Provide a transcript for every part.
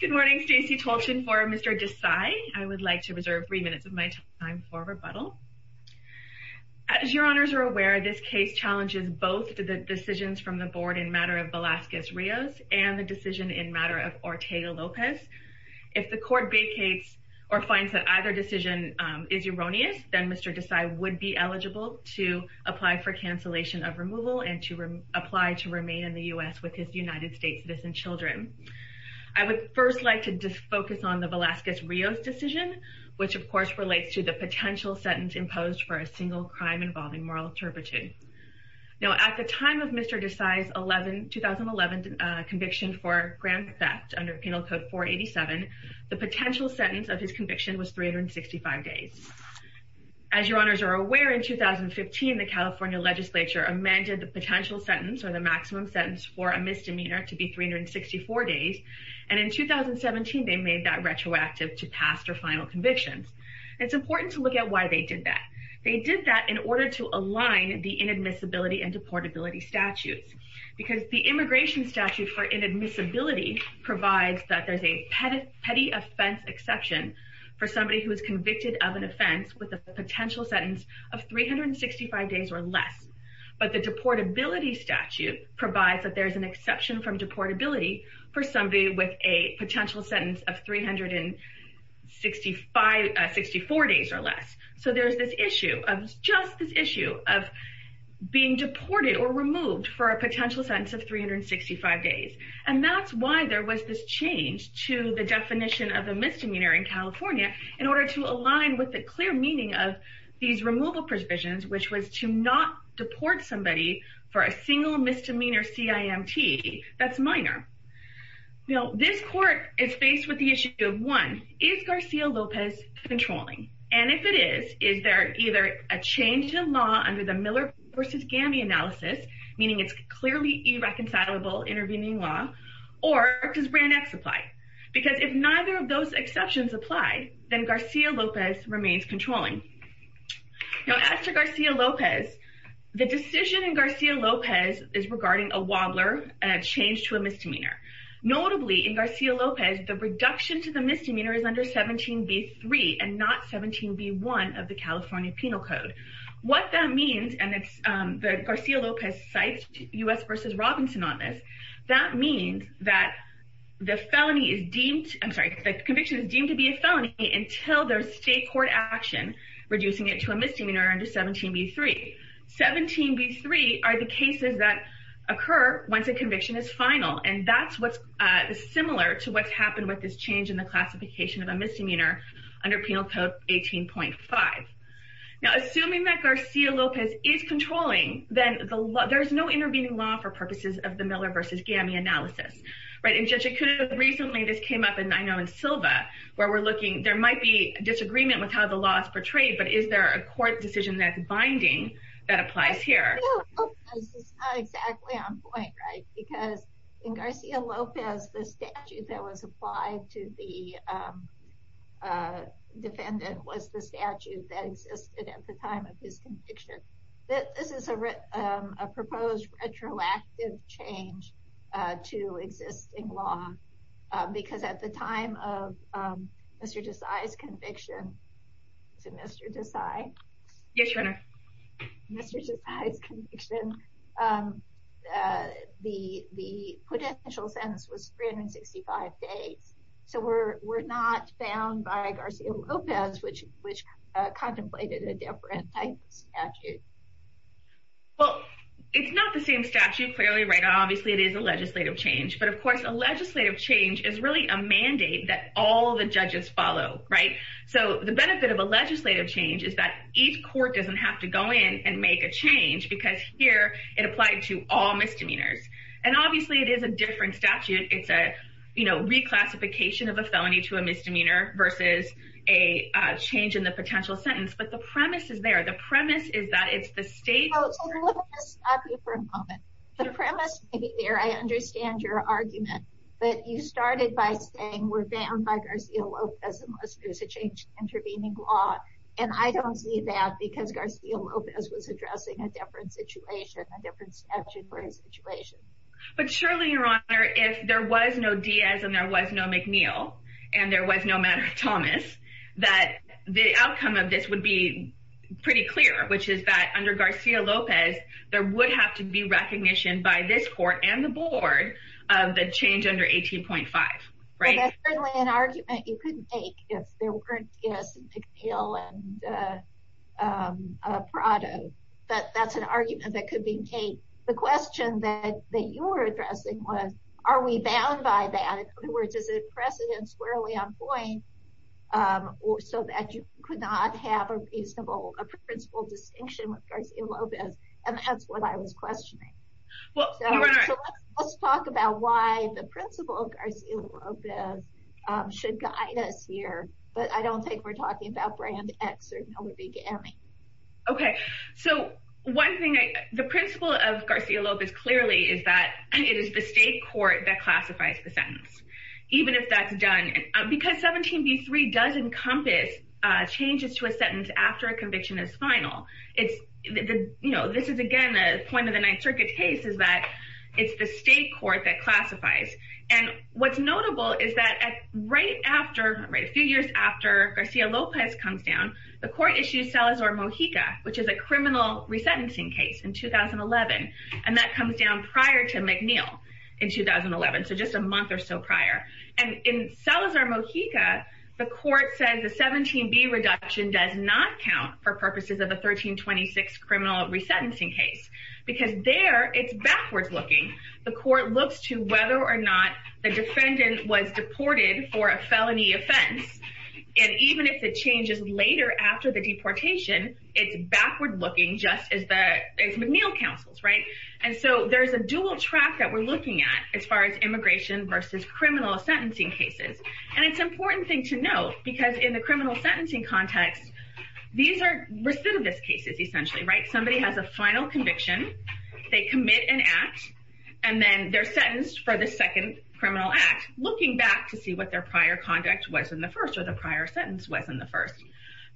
Good morning, Stacey Tolchin for Mr. Desai. I would like to reserve three minutes of my time for rebuttal. As your honors are aware, this case challenges both the decisions from the board in matter of Velasquez Rios and the decision in matter of Ortega Lopez. If the court vacates or finds that either decision is erroneous, then Mr. Desai would be eligible to apply for cancellation of removal and to apply to remain in the US with his United States citizen children. I would first like to just focus on the Velasquez Rios decision, which of course relates to the potential sentence imposed for a single crime involving moral turpitude. Now at the time of Mr. Desai's 2011 conviction for grand theft under Penal Code 487, the potential sentence of his conviction was 365 days. As your honors are aware, in 2015, the California legislature amended the potential sentence or the maximum sentence for a misdemeanor to be 364 days. And in 2017, they made that retroactive to past or final convictions. It's important to look at why they did that. They did that in order to align the inadmissibility and deportability statutes, because the immigration statute for inadmissibility provides that there's a petty offense exception for somebody who is convicted of an offense with a potential sentence of 365 days or less. But the deportability statute provides that there's an exception from deportability for somebody with a potential sentence of 365, 64 days or less. So there's this issue of just this issue of being deported or removed for a potential sentence of 365 days. And that's why there was this change to the definition of the misdemeanor in California, in order to align with the clear meaning of these removal provisions, which was to not deport somebody for a single misdemeanor CIMT, that's minor. Now, this court is faced with the issue of one, is Garcia Lopez controlling? And if it is, is there either a change in law under the Miller v. Gamby analysis, meaning it's clearly irreconcilable intervening law, or does Brand X apply? Because if neither of those exceptions apply, then Garcia Lopez remains controlling. Now, as to Garcia Lopez, the decision in Garcia Lopez is regarding a wobbler change to a misdemeanor. Notably, in Garcia Lopez, the reduction to the misdemeanor is under 17b3 and not 17b1 of the California Penal Code. What that means, and it's the Garcia Lopez cites US v. Robinson on this, that means that the felony is deemed, I'm sorry, the conviction is deemed to be a felony until there's state court action, reducing it to a misdemeanor under 17b3. 17b3 are the cases that occur once a conviction is final. And that's what's similar to what's happened with this change in the classification of a misdemeanor under Penal Code 18.5. Now, assuming that Garcia Lopez is controlling, then there's no intervening law for purposes of the Miller v. Gamby analysis, right? And recently, this came up and I know in Silva, where we're looking, there might be disagreement with how the law is portrayed. But is there a court decision that's binding that applies here? Exactly on point, right? Because in Garcia Lopez, the statute that was applied to the defendant was the statute that existed at the time of his conviction. This is a proposed retroactive change to existing law. Because at the time of Mr. Desai's conviction, is it Mr. Desai? Yes, Your Honor. Mr. Desai's conviction, the potential sentence was 365 days. So we're not bound by Garcia Lopez, which contemplated a different type of statute. Well, it's not the same statute, clearly, right? Obviously, it is a legislative change. But of course, a legislative change is really a mandate that all the judges follow, right? So the benefit of a legislative change is that each court doesn't have to go in and make a change because here, it applied to all misdemeanors. And obviously, it is a different statute. It's a, you know, reclassification of a felony to a misdemeanor versus a change in the potential sentence. But the premise is there. The premise is that it's the state... So let me stop you for a moment. The premise may be there. I understand your argument. But you started by saying we're bound by Garcia Lopez unless there's a change to intervening law. And I don't see that because Garcia Lopez was addressing a different situation, a different statute for his situation. But surely, Your Honor, if there was no Diaz, and there was no McNeil, and there was no Madder Thomas, that the outcome of this would be pretty clear, which is that under Garcia Lopez, there would have to be recognition by this court and the board of the change under 18.5, right? That's certainly an argument you couldn't make if there weren't Diaz and McNeil and Prado. But that's an argument that could be made. The question that you were addressing was, are we bound by that? In other words, is it precedent squarely on a principle distinction with Garcia Lopez? And that's what I was questioning. Well, Your Honor... So let's talk about why the principle of Garcia Lopez should guide us here. But I don't think we're talking about Brand X or Miller v. Gammy. Okay. So one thing, the principle of Garcia Lopez clearly is that it is the state court that classifies the sentence, even if that's done. Because 17b-3 does encompass changes to a sentence after a conviction is final. This is, again, a point of the Ninth Circuit case is that it's the state court that classifies. And what's notable is that a few years after Garcia Lopez comes down, the court issues Salazar Mojica, which is a criminal resentencing case in 2011. And that comes down prior to McNeil in 2011. So just a month or so later, 17b reduction does not count for purposes of the 1326 criminal resentencing case, because there it's backwards looking. The court looks to whether or not the defendant was deported for a felony offense. And even if it changes later after the deportation, it's backward looking just as the McNeil counsels, right. And so there's a dual track that we're looking at as far as immigration versus criminal sentencing cases. And it's important thing to note, because in the criminal sentencing context, these are recidivist cases, essentially, right? Somebody has a final conviction, they commit an act, and then they're sentenced for the second criminal act, looking back to see what their prior conduct was in the first or the prior sentence was in the first.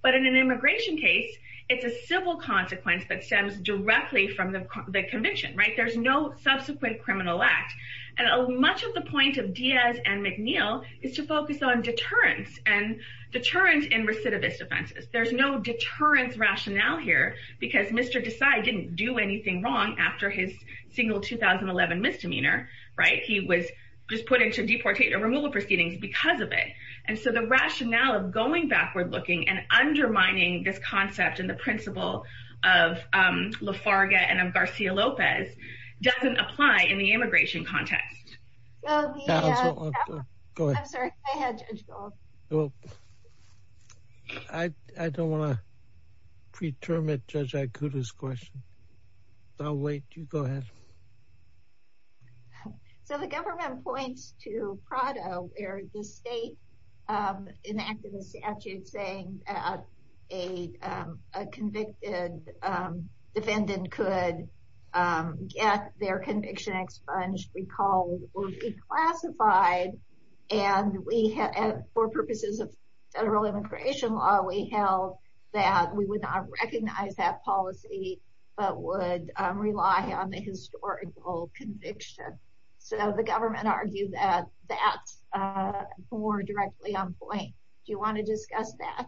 But in an immigration case, it's a civil consequence that stems directly from the conviction, right? There's no subsequent criminal act. And much of the point of Diaz and McNeil is to in recidivist offenses, there's no deterrence rationale here, because Mr. Desai didn't do anything wrong after his single 2011 misdemeanor, right, he was just put into deportation removal proceedings because of it. And so the rationale of going backward looking and undermining this concept and the principle of Lafarga and Garcia Lopez doesn't apply in the immigration context. Go ahead. I don't want to preterm at Judge Aikuda's question. I'll wait, you go ahead. So the government points to Prado, where the state enacted a statute saying a convicted defendant could get their conviction expunged, recalled or declassified. And we have for immigration law, we held that we would not recognize that policy, but would rely on the historical conviction. So the government argued that that's more directly on point. Do you want to discuss that?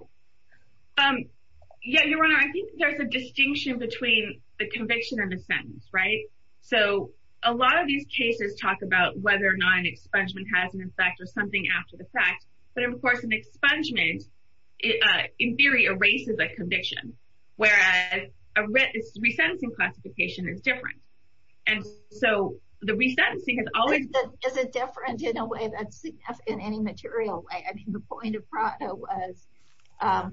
Yeah, Your Honor, I think there's a distinction between the conviction and the sentence, right? So a lot of these cases talk about whether or not an expungement has an effect or something after the fact. But of course, an expungement, in theory, erases a conviction, whereas a resentencing classification is different. And so the resentencing has always is a different in a way that's enough in any material way. I mean, the point of Prado was,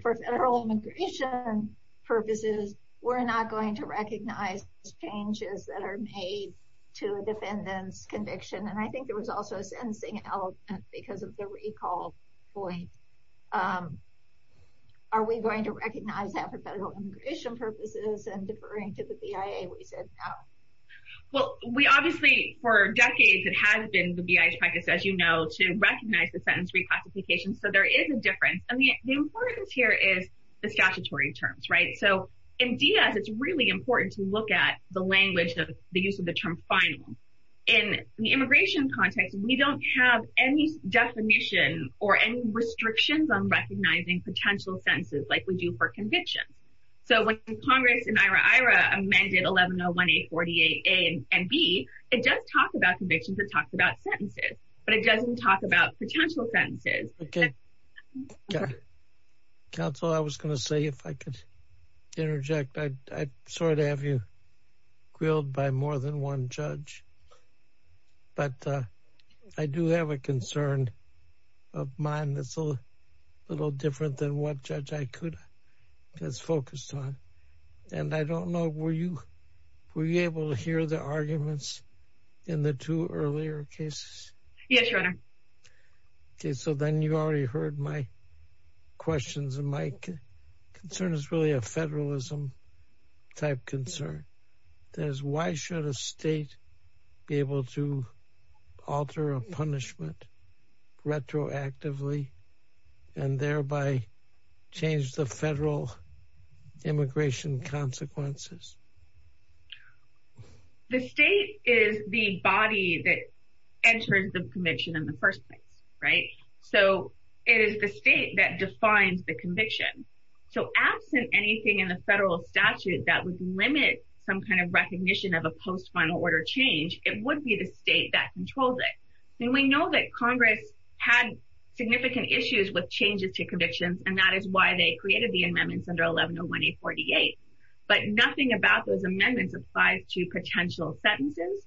for federal immigration purposes, we're not going to recognize changes that are made to a defendant's conviction. And I think there was also a resentencing element because of the recall point. Are we going to recognize that for federal immigration purposes and deferring to the BIA, we said no. Well, we obviously for decades, it has been the BIA's practice, as you know, to recognize the sentence reclassification. So there is a difference. And the importance here is the statutory terms, right? So in Diaz, it's really important to look at the language of the use of the term final. In the BIA, we don't have any definition or any restrictions on recognizing potential sentences like we do for convictions. So when Congress in IRA, amended 1101A48A and B, it does talk about convictions, it talks about sentences, but it doesn't talk about potential sentences. Counsel, I was gonna say if I could interject, I'm sorry to have you grilled by more than one judge. But I do have a concern of mine that's a little different than what judge I could have focused on. And I don't know, were you able to hear the arguments in the two earlier cases? Yes, Your Honor. Okay, so then you already heard my questions. And my concern is really a federalism type concern. That is why should a state be able to alter a punishment retroactively, and thereby change the federal immigration consequences? The state is the body that enters the commission in the first place, right? So it is the state that defines the punishment. So if Congress did anything in the federal statute that would limit some kind of recognition of a post final order change, it would be the state that controls it. And we know that Congress had significant issues with changes to convictions. And that is why they created the amendments under 1101A48. But nothing about those amendments applies to potential sentences.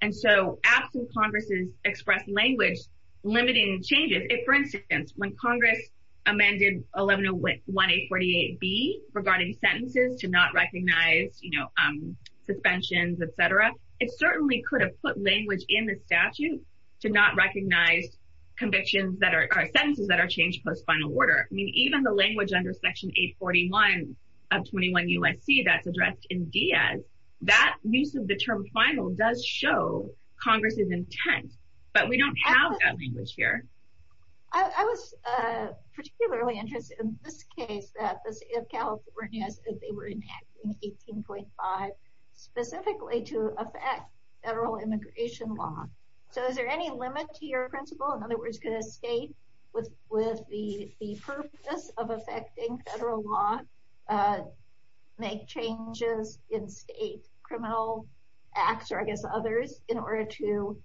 And so absent Congress's express language, limiting changes, if for instance, when Congress amended 1101A48B regarding sentences to not recognize, you know, suspensions, etc., it certainly could have put language in the statute to not recognize convictions that are sentences that are changed post final order. I mean, even the language under Section 841 of 21 U.S.C. that's addressed in Diaz, that use of the term final does show Congress's intent. But we don't have that language here. I was particularly interested in this case that the state of California, they were enacting 18.5, specifically to affect federal immigration law. So is there any limit to your principle? In other words, could a state with the purpose of affecting federal law make changes in state criminal acts, or I guess others in order to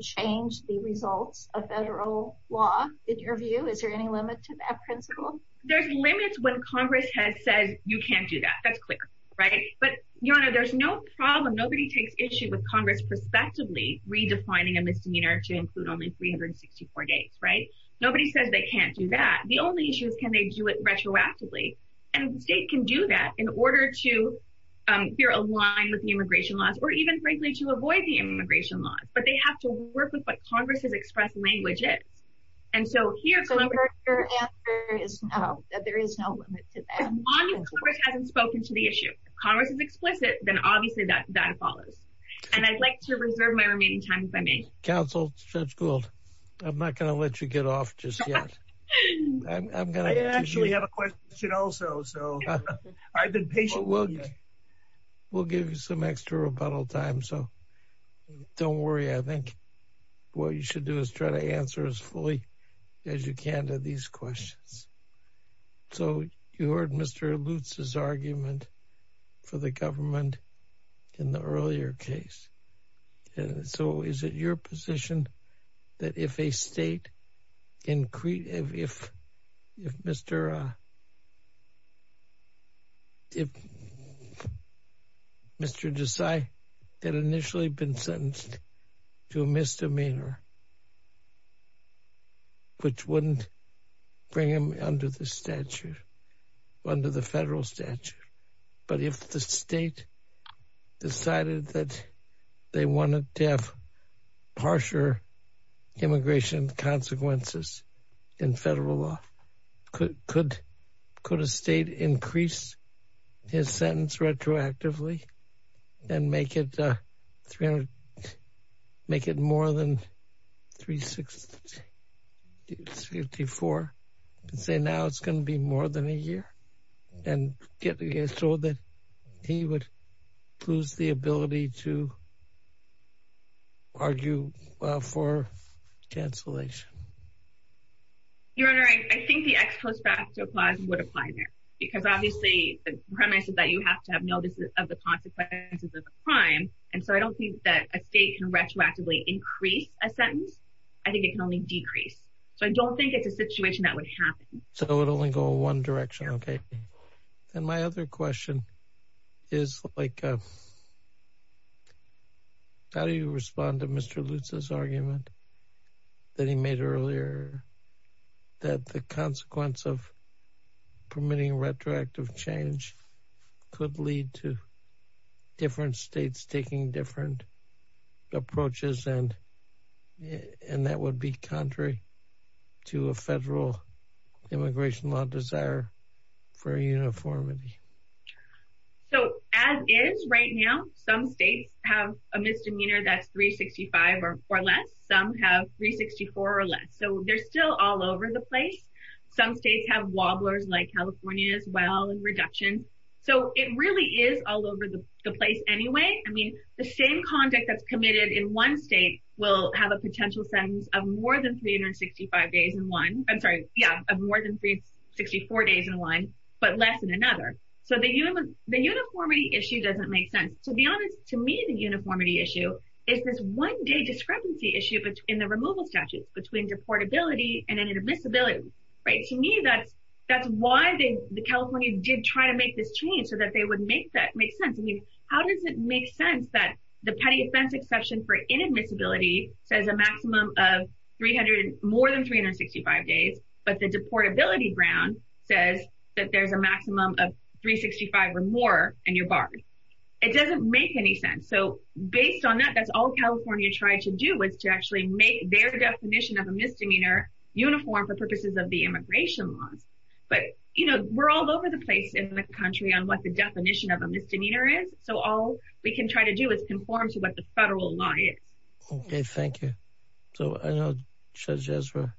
change the results of federal law, in your view? Is there any limit to that principle? There's limits when Congress has said, you can't do that. That's clear, right? But you know, there's no problem. Nobody takes issue with Congress prospectively redefining a misdemeanor to include only 364 days, right? Nobody says they can't do that. The only issue is, can they do it retroactively? And the state can do that in order to be aligned with the immigration laws, or even frankly, to avoid the immigration laws, but they have to work with what Congress has expressed languages. And so here's the answer is no, that there is no limit to that. Congress hasn't spoken to the issue. Congress is explicit, then obviously that that follows. And I'd like to reserve my remaining time if I may. Counsel Judge Gould, I'm not gonna let you get off just yet. I'm gonna actually have a question also. So I've been patient. Well, we'll give you some extra rebuttal time. So don't worry. I think what you should do is try to answer as fully as you can to these questions. So you heard Mr. Lutz's argument for the government in the earlier case. So is it your position that if a state, if Mr. Desai had initially been sentenced to a misdemeanor, which wouldn't bring him under the statute, under the federal statute, but if the state decided that they immigration consequences in federal law, could a state increase his sentence retroactively and make it more than 364 and say now it's going to be more than a year and get against all that he would lose the ability to argue for cancellation? Your Honor, I think the ex post facto clause would apply there. Because obviously, the premise is that you have to have no this is of the consequences of the crime. And so I don't think that a state can retroactively increase a sentence. I think it can only decrease. So I don't think it's a situation that would happen. So it'll only go one direction. Okay. And my other question is like, how do you respond to Mr. Lutz's argument that he made earlier, that the consequence of permitting retroactive change could lead to different states taking different approaches and and that would be contrary to a federal immigration law desire for uniformity. So as is right now, some states have a misdemeanor that's 365 or less, some have 364 or less. So they're still all over the place. Some states have wobblers like California as well and reduction. So it really is all over the place anyway. I mean, the same conduct that's committed in one state will have a potential sentence of more than 365 days in one I'm sorry, yeah, more than 364 days in one, but less than another. So the human the uniformity issue doesn't make sense. To be honest, to me, the uniformity issue is this one day discrepancy issue between the removal statutes between deportability and inadmissibility, right? To me, that's, that's why they the California did try to make this change so that they would make that make sense. I mean, how does it make sense that the petty offense exception for inadmissibility says a maximum of 300 more than 365 days, but the deportability Brown says that there's a maximum of 365 or more and you're barred. It doesn't make any sense. So based on that, that's all California tried to do was to actually make their definition of a misdemeanor uniform for purposes of the immigration laws. But you know, we're all over the place in the country on what the definition of a misdemeanor is. So all we can try to do is conform to what the federal law is. Okay, thank you. So I know, Judge Ezra.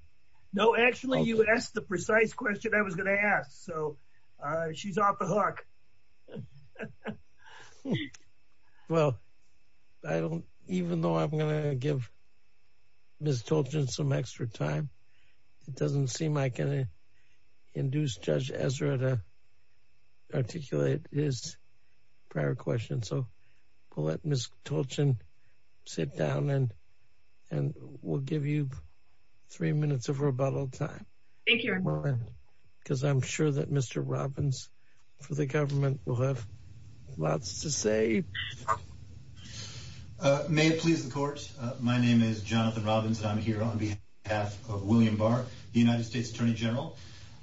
No, actually, you asked the precise question I was going to ask. So she's off the hook. Well, I don't even know I'm going to give Miss Tolkien some extra time. It doesn't seem I can induce Judge Ezra to prior question. So we'll let Miss Tolkien sit down and and we'll give you three minutes of rebuttal time. Thank you. Because I'm sure that Mr. Robbins for the government will have lots to say. May it please the court. My name is Jonathan Robbins. And I'm here on behalf of William Barr, the United States Attorney General.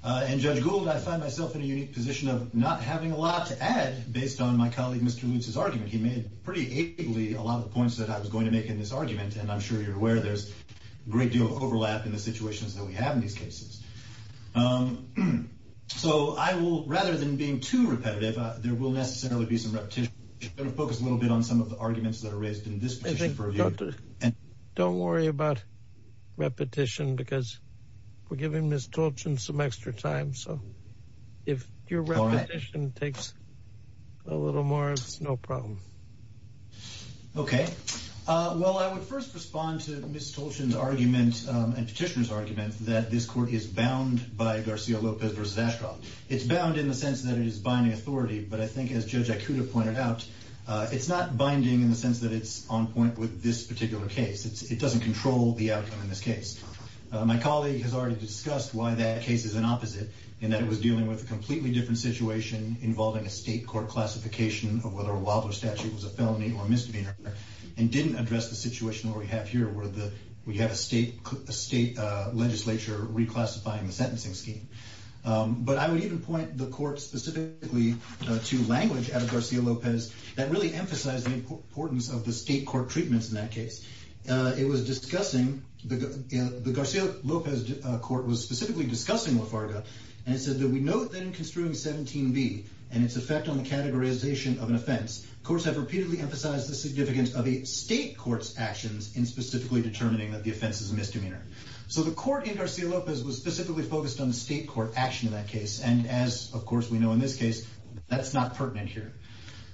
And Judge Gould, I find myself in a unique position of not having a lot to add based on my colleague, Mr. Lutz's argument, he made pretty ably a lot of points that I was going to make in this argument. And I'm sure you're aware there's great deal of overlap in the situations that we have in these cases. So I will rather than being too repetitive, there will necessarily be some repetition, focus a little bit on some of the arguments that are raised in this. Don't worry about repetition, because we're giving Miss Tolkien extra time. So if your repetition takes a little more, it's no problem. Okay. Well, I would first respond to Miss Tolkien's argument and petitioners argument that this court is bound by Garcia Lopez versus Ashcroft. It's bound in the sense that it is binding authority. But I think as Judge Akuta pointed out, it's not binding in the sense that it's on point with this particular case. It doesn't control the outcome in this case. My colleague has already discussed why that case is an opposite, in that it was dealing with a completely different situation involving a state court classification of whether a Wobbler statute was a felony or misdemeanor, and didn't address the situation where we have here, where we have a state legislature reclassifying the sentencing scheme. But I would even point the court specifically to language out of Garcia Lopez that really emphasized the importance of the state court treatments in that case. It was discussing, the Garcia Lopez court was specifically discussing Lafarga. And it said that we note that in construing 17b and its effect on the categorization of an offense, courts have repeatedly emphasized the significance of a state court's actions in specifically determining that the offense is a misdemeanor. So the court in Garcia Lopez was specifically focused on the state court action in that case. And as of course, we know in this case, that's not pertinent here.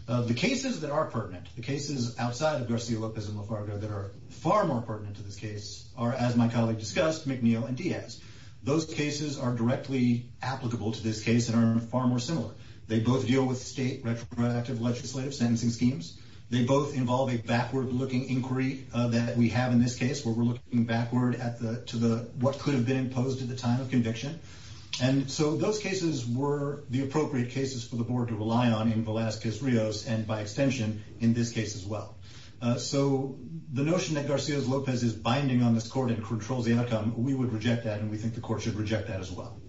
The cases that are pertinent, the cases outside of Garcia Lopez and Lafarga that are far more pertinent to this case are, as my colleague discussed, McNeil and Diaz. Those cases are directly applicable to this case and are far more similar. They both deal with state retroactive legislative sentencing schemes. They both involve a backward looking inquiry that we have in this case where we're looking backward at the to the what could have been imposed at the time of conviction. And so those cases were the appropriate cases for the board to rely on in Velazquez Rios, and by extension, in this case as well. So the notion that Garcia Lopez is binding on this court and controls the outcome, we would reject that and we think the court should reject that as well.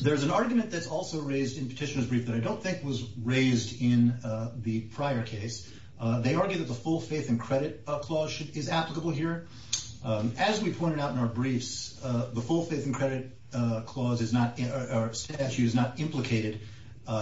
There's an argument that's also raised in petitioners brief that I don't think was raised in the prior case. They argue that the full faith and credit clause is applicable here. As we pointed out in our briefs, the full faith and credit clause is not in our statute is not implicated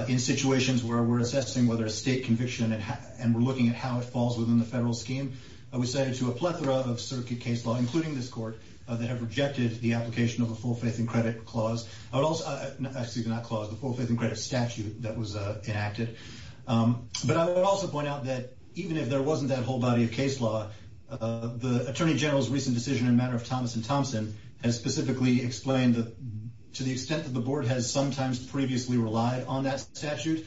in situations where we're assessing whether a state conviction and we're looking at how it falls within the federal scheme. I would say to a plethora of circuit case law, including this court, that have rejected the application of a full faith and credit clause. I would also actually not clause the full faith and credit statute that was enacted. But I would also point out that even if there wasn't that whole body of case law, the Attorney General's recent decision in matter of Thomas and Thompson has specifically explained to the extent that the board has sometimes previously relied on that statute.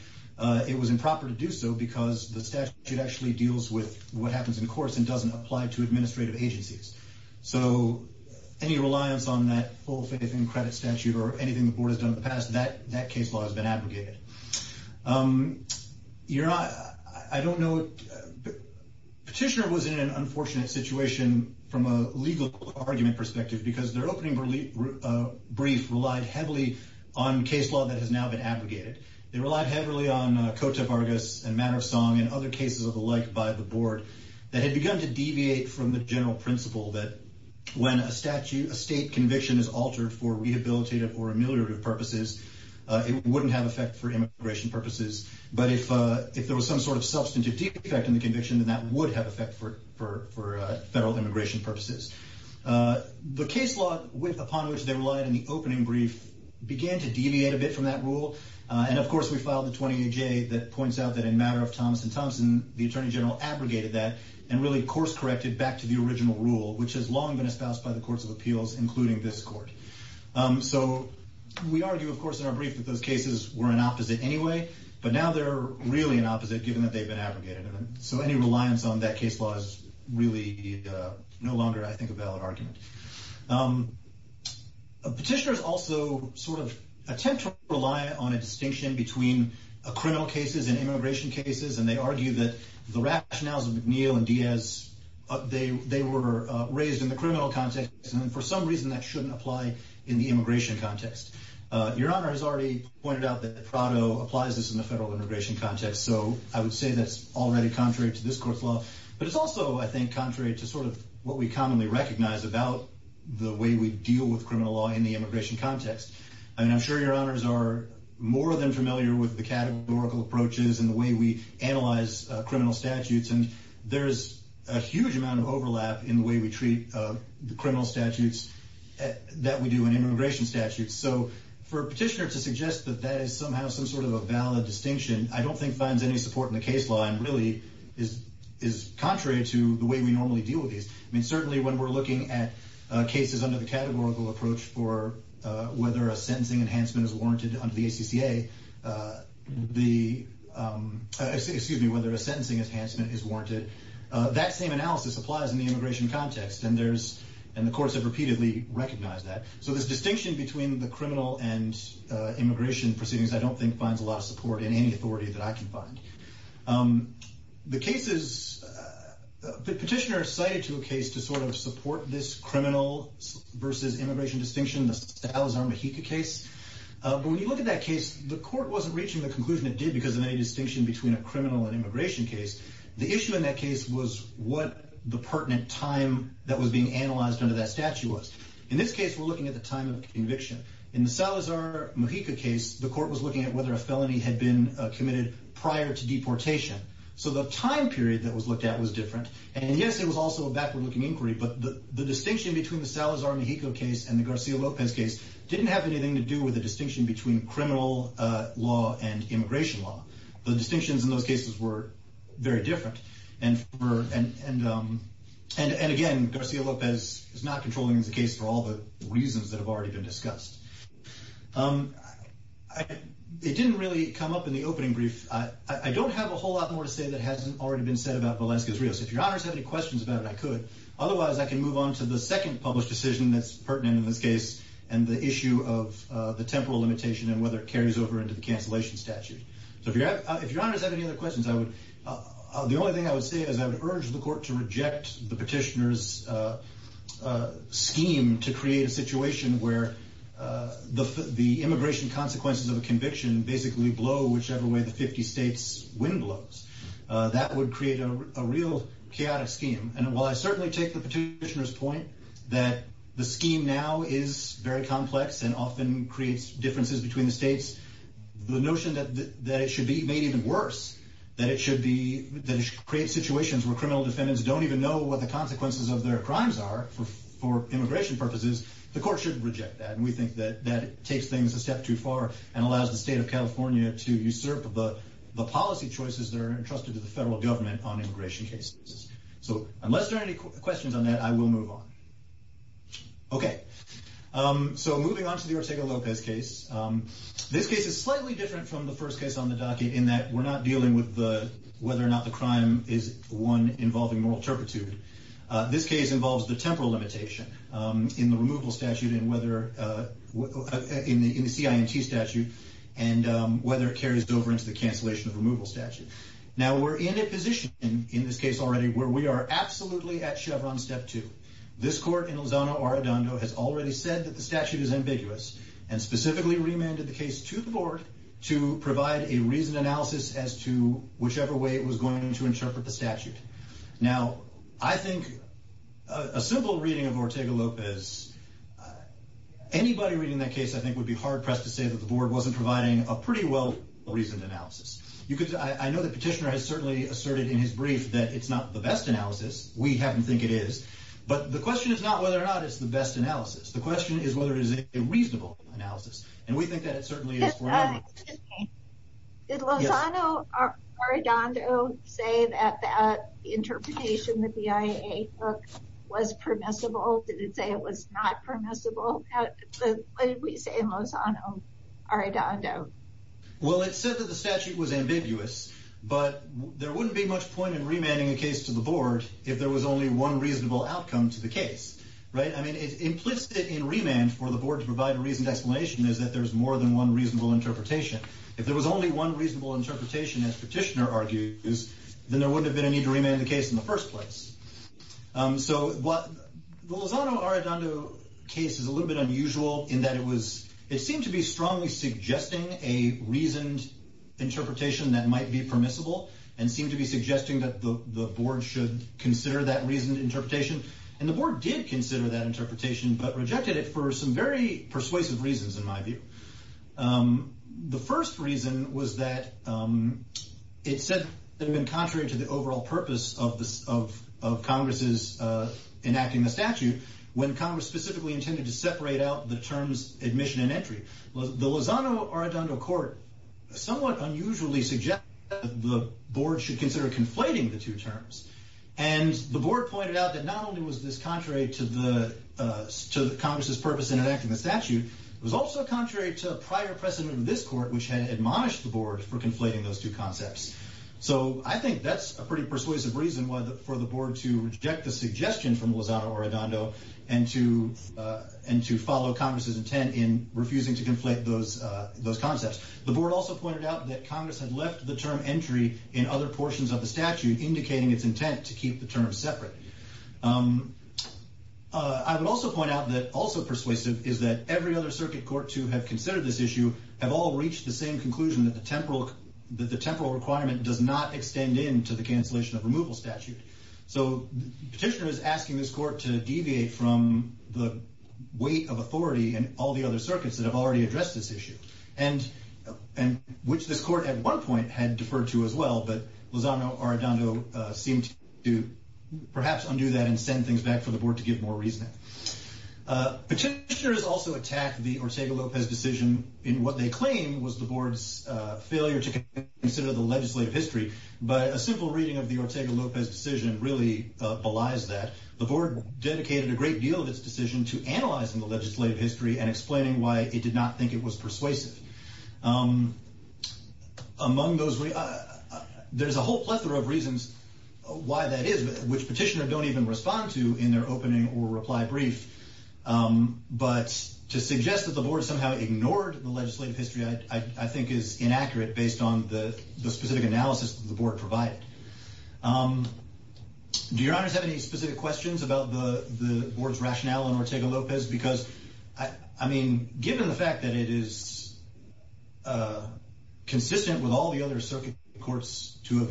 It was improper to do so because the statute actually deals with what happens in course and doesn't apply to administrative agencies. So any reliance on that full faith and credit statute or anything the board has done in the past, that that case law has been abrogated. You're not. I don't know. Petitioner was in an unfortunate situation from a legal argument perspective because their opening relief brief relied heavily on case law that has now been abrogated. They relied heavily on Cota Vargas and matter of song and other cases of the like by the board that had begun to deviate from the general principle that when a statute, a state conviction is altered for rehabilitative or ameliorative purposes, it wouldn't have effect for immigration purposes. But if if there was some sort of substantive defect in the conviction, then that would have effect for for federal immigration purposes. The case law with upon which they relied on the opening brief began to deviate a bit from that rule. And of course, we filed the 28 J that points out that in matter of Thomas and Thompson, the attorney general abrogated that and really course corrected back to the original rule, which has long been espoused by the courts of appeals, including this court. So we argue, of course, in our brief that those cases were an opposite anyway, but now they're really an opposite given that they've been abrogated. So any reliance on that case law is really no longer, I think, a valid argument. Petitioners also sort of attempt to rely on a different set of cases. And they argue that the rationales of McNeil and Diaz, they they were raised in the criminal context. And for some reason, that shouldn't apply in the immigration context. Your Honor has already pointed out that Prado applies this in the federal immigration context. So I would say that's already contrary to this court's law. But it's also I think, contrary to sort of what we commonly recognize about the way we deal with criminal law in the immigration context. And I'm sure Your Honors are more than approach is in the way we analyze criminal statutes. And there's a huge amount of overlap in the way we treat the criminal statutes that we do in immigration statutes. So for a petitioner to suggest that that is somehow some sort of a valid distinction, I don't think finds any support in the case law and really is, is contrary to the way we normally deal with these. I mean, certainly when we're looking at cases under the categorical approach for whether a sentencing enhancement is warranted, or the ACCA, excuse me, whether a sentencing enhancement is warranted, that same analysis applies in the immigration context. And there's, and the courts have repeatedly recognized that. So this distinction between the criminal and immigration proceedings, I don't think finds a lot of support in any authority that I can find. The cases, the petitioner cited to a case to sort of support this criminal versus immigration distinction, the Salazar-Mejica case. But when you look at that case, the court wasn't reaching the conclusion it did because of any distinction between a criminal and immigration case. The issue in that case was what the pertinent time that was being analyzed under that statute was. In this case, we're looking at the time of conviction. In the Salazar-Mejica case, the court was looking at whether a felony had been committed prior to deportation. So the time period that was looked at was different. And yes, it was also a backward looking inquiry. But the distinction between the Salazar-Mejica case and the Garcia-Lopez case didn't have anything to do with a distinction between criminal law and immigration law. The distinctions in those cases were very different. And again, Garcia-Lopez is not controlling the case for all the reasons that have already been discussed. It didn't really come up in the opening brief. I don't have a whole lot more to say that hasn't already been said about Velazquez-Rios. If your honors have any questions about it, I could. Otherwise, I can move on to the second published decision that's pertinent in this case and the temporal limitation and whether it carries over into the cancellation statute. So if your honors have any other questions, the only thing I would say is I would urge the court to reject the petitioner's scheme to create a situation where the immigration consequences of a conviction basically blow whichever way the 50 states wind blows. That would create a real chaotic scheme. And while I certainly take the petitioner's point that the scheme now is very complex and often creates differences between the states, the notion that it should be made even worse, that it should create situations where criminal defendants don't even know what the consequences of their crimes are for immigration purposes, the court should reject that. And we think that that takes things a step too far and allows the state of California to usurp the policy choices that are entrusted to the federal government on immigration cases. So unless there are any questions on that, I will move on. Okay, so moving on to the Ortega-Lopez case. This case is slightly different from the first case on the docket in that we're not dealing with the whether or not the crime is one involving moral turpitude. This case involves the temporal limitation in the removal statute and whether in the CINT statute and whether it carries over into the cancellation of removal statute. Now we're in a position in this case already where we are absolutely at Chevron step two. This court in Lozano Arradondo has already said that the statute is ambiguous and specifically remanded the case to the board to provide a reasoned analysis as to whichever way it was going to interpret the statute. Now, I think a simple reading of Ortega-Lopez, anybody reading that case, I think would be hard pressed to say that the board wasn't providing a pretty well reasoned analysis. I know the petitioner has certainly asserted in his brief that it's not the best analysis. We happen to think it is. But the question is not whether or not it's the best analysis. The question is whether it is a reasonable analysis. And we think that it certainly is. Did Lozano Arradondo say that that interpretation that the IAA took was permissible? Did it say it was not permissible? What did we say in Lozano Arradondo? Well, it said that the statute was ambiguous, but there wouldn't be much point in remanding a case to the board if there was only one reasonable outcome to the case, right? I mean, it's implicit in remand for the board to provide a reasoned explanation is that there's more than one reasonable interpretation. If there was only one reasonable interpretation, as petitioner argued, then there wouldn't have been a need to remand the case in the first place. So what the Lozano Arradondo case is a little bit unusual in that it was, it seemed to be strongly suggesting a reasoned interpretation that might be permissible and seemed to be suggesting that the board should consider that reasoned interpretation. And the board did consider that interpretation, but rejected it for some very persuasive reasons in my view. The first reason was that it said that it had been contrary to the overall purpose of Congress's enacting the statute when Congress specifically intended to separate out the terms admission and entry. The Lozano Arradondo court somewhat unusually suggested that the board should consider conflating the two terms. And the board pointed out that not only was this contrary to the Congress's purpose in enacting the statute, it was also contrary to a prior precedent of this court, which had admonished the board for conflating those two concepts. So I think that's a pretty persuasive reason for the board to reject the suggestion from Lozano Arradondo and to follow Congress's intent in refusing to The board also pointed out that Congress had left the term entry in other portions of the statute, indicating its intent to keep the terms separate. I would also point out that also persuasive is that every other circuit court to have considered this issue have all reached the same conclusion that the temporal requirement does not extend into the cancellation of removal statute. So petitioner is asking this court to deviate from the weight of authority and all the other circuits that have already addressed this issue. And, and which this court at one point had deferred to as well, but Lozano Arradondo seemed to perhaps undo that and send things back for the board to give more reason. Petitioners also attacked the Ortega-Lopez decision in what they claim was the board's failure to consider the legislative history. But a simple reading of the Ortega- Lopez decision really belies that. The board dedicated a great deal of its decision to analyzing the legislative history and explaining why it did not think it was persuasive. Among those, there's a whole plethora of reasons why that is, which petitioner don't even respond to in their opening or reply brief. But to suggest that the board somehow ignored the legislative history, I think is inaccurate based on the specific analysis that the board provided. Do your honors have any specific questions about the, the board's rationale on I mean, given the fact that it is consistent with all the other circuit courts to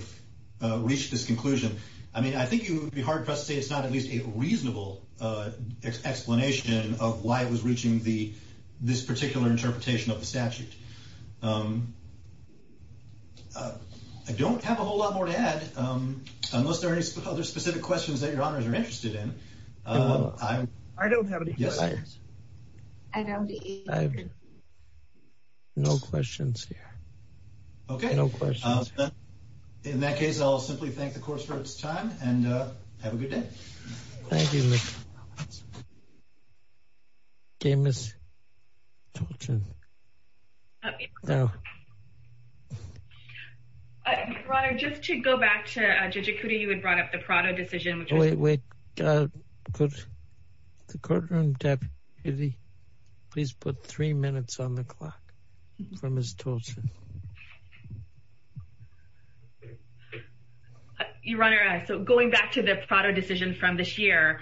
have reached this conclusion. I mean, I think it would be hard for us to say it's not at least a reasonable explanation of why it was reaching the, this particular interpretation of the statute. I don't have a whole lot more to add, unless there are any other specific questions that your honors are interested in. I don't have any. No questions here. Okay. No questions. In that case, I'll simply thank the court for its time and have a good day. Thank you. Okay, Ms. Tolton. Your honor, just to go back to Judge Ikuti, you had brought up the Prado decision. Wait, wait. Could the courtroom deputy please put three minutes on the clock from Ms. Tolton. Your honor, so going back to the Prado decision from this year,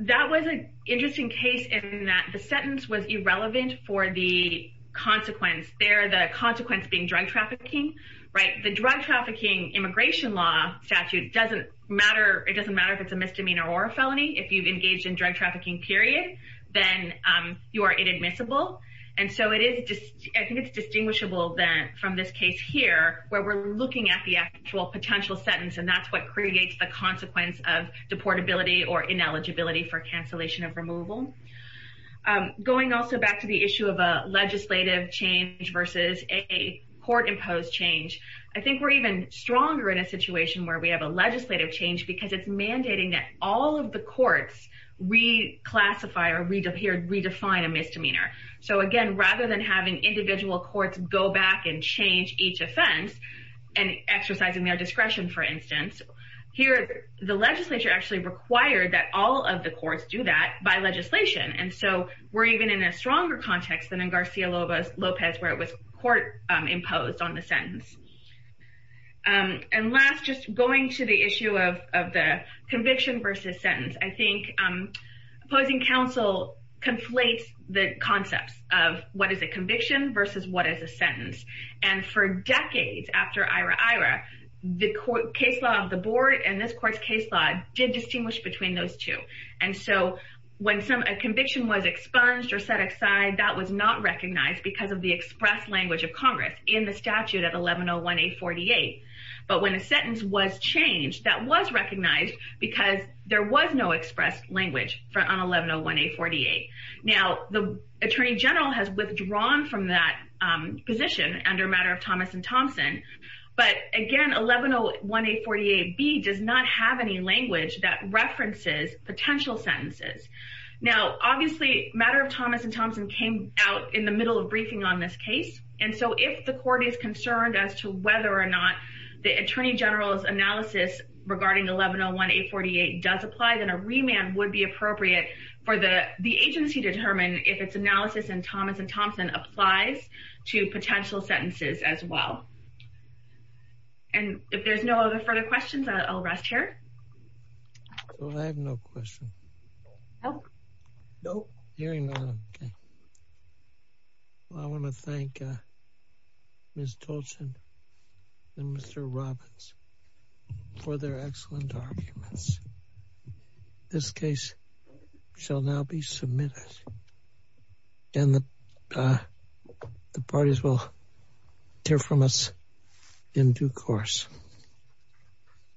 that was an interesting case in that the sentence was irrelevant for the consequence there, the consequence being drug trafficking, right? The drug trafficking immigration law statute doesn't matter. It doesn't matter if it's a misdemeanor or a felony. If you've engaged in drug trafficking period, then you are inadmissible. And so it is, I think it's distinguishable that from this case here, where we're looking at the actual potential sentence, and that's what creates the consequence of deportability or ineligibility for cancellation of removal. Going also back to the issue of a legislative change versus a court imposed change. I think we're even stronger in a situation where we have a legislative change because it's mandating that all of the courts reclassify or redefine a misdemeanor. So again, rather than having individual courts go back and change each offense, and exercising their discretion, for instance, here, the legislature actually required that all of the courts do that by legislation. And so we're even in a stronger context than in Garcia Lopez, where it was court imposed on the sentence. And last, just going to the issue of the conviction versus sentence, I think, opposing counsel conflates the concepts of what is a conviction versus what is a sentence. And for decades after IRA, the court case law of the board and this court's case law did distinguish between those two. And so when some conviction was expunged or set aside, that was not recognized because of the express language of Congress in the statute at 1101 a 48. But when a sentence was changed, that was recognized, because there was no expressed language for on 1101 a 48. Now, the Attorney General has withdrawn from that position under matter of Thomas and Thompson. But again, 1101 a 48 b does not have any language that references potential sentences. Now, obviously, matter of Thomas and Thompson came out in the middle of briefing on this case. And so if the court is concerned as to whether or not the Attorney General's analysis regarding 1101 a 48 does apply, then a remand would be appropriate for the the agency determined if it's analysis and Thomas and Thompson applies to potential sentences as well. And if there's no other further questions, I'll rest here. So I have no question. Nope. Nope. Hearing none. I want to thank Ms. Tolchin and Mr. Robbins for their excellent arguments. This case shall now be submitted. And the parties will hear from us in due course.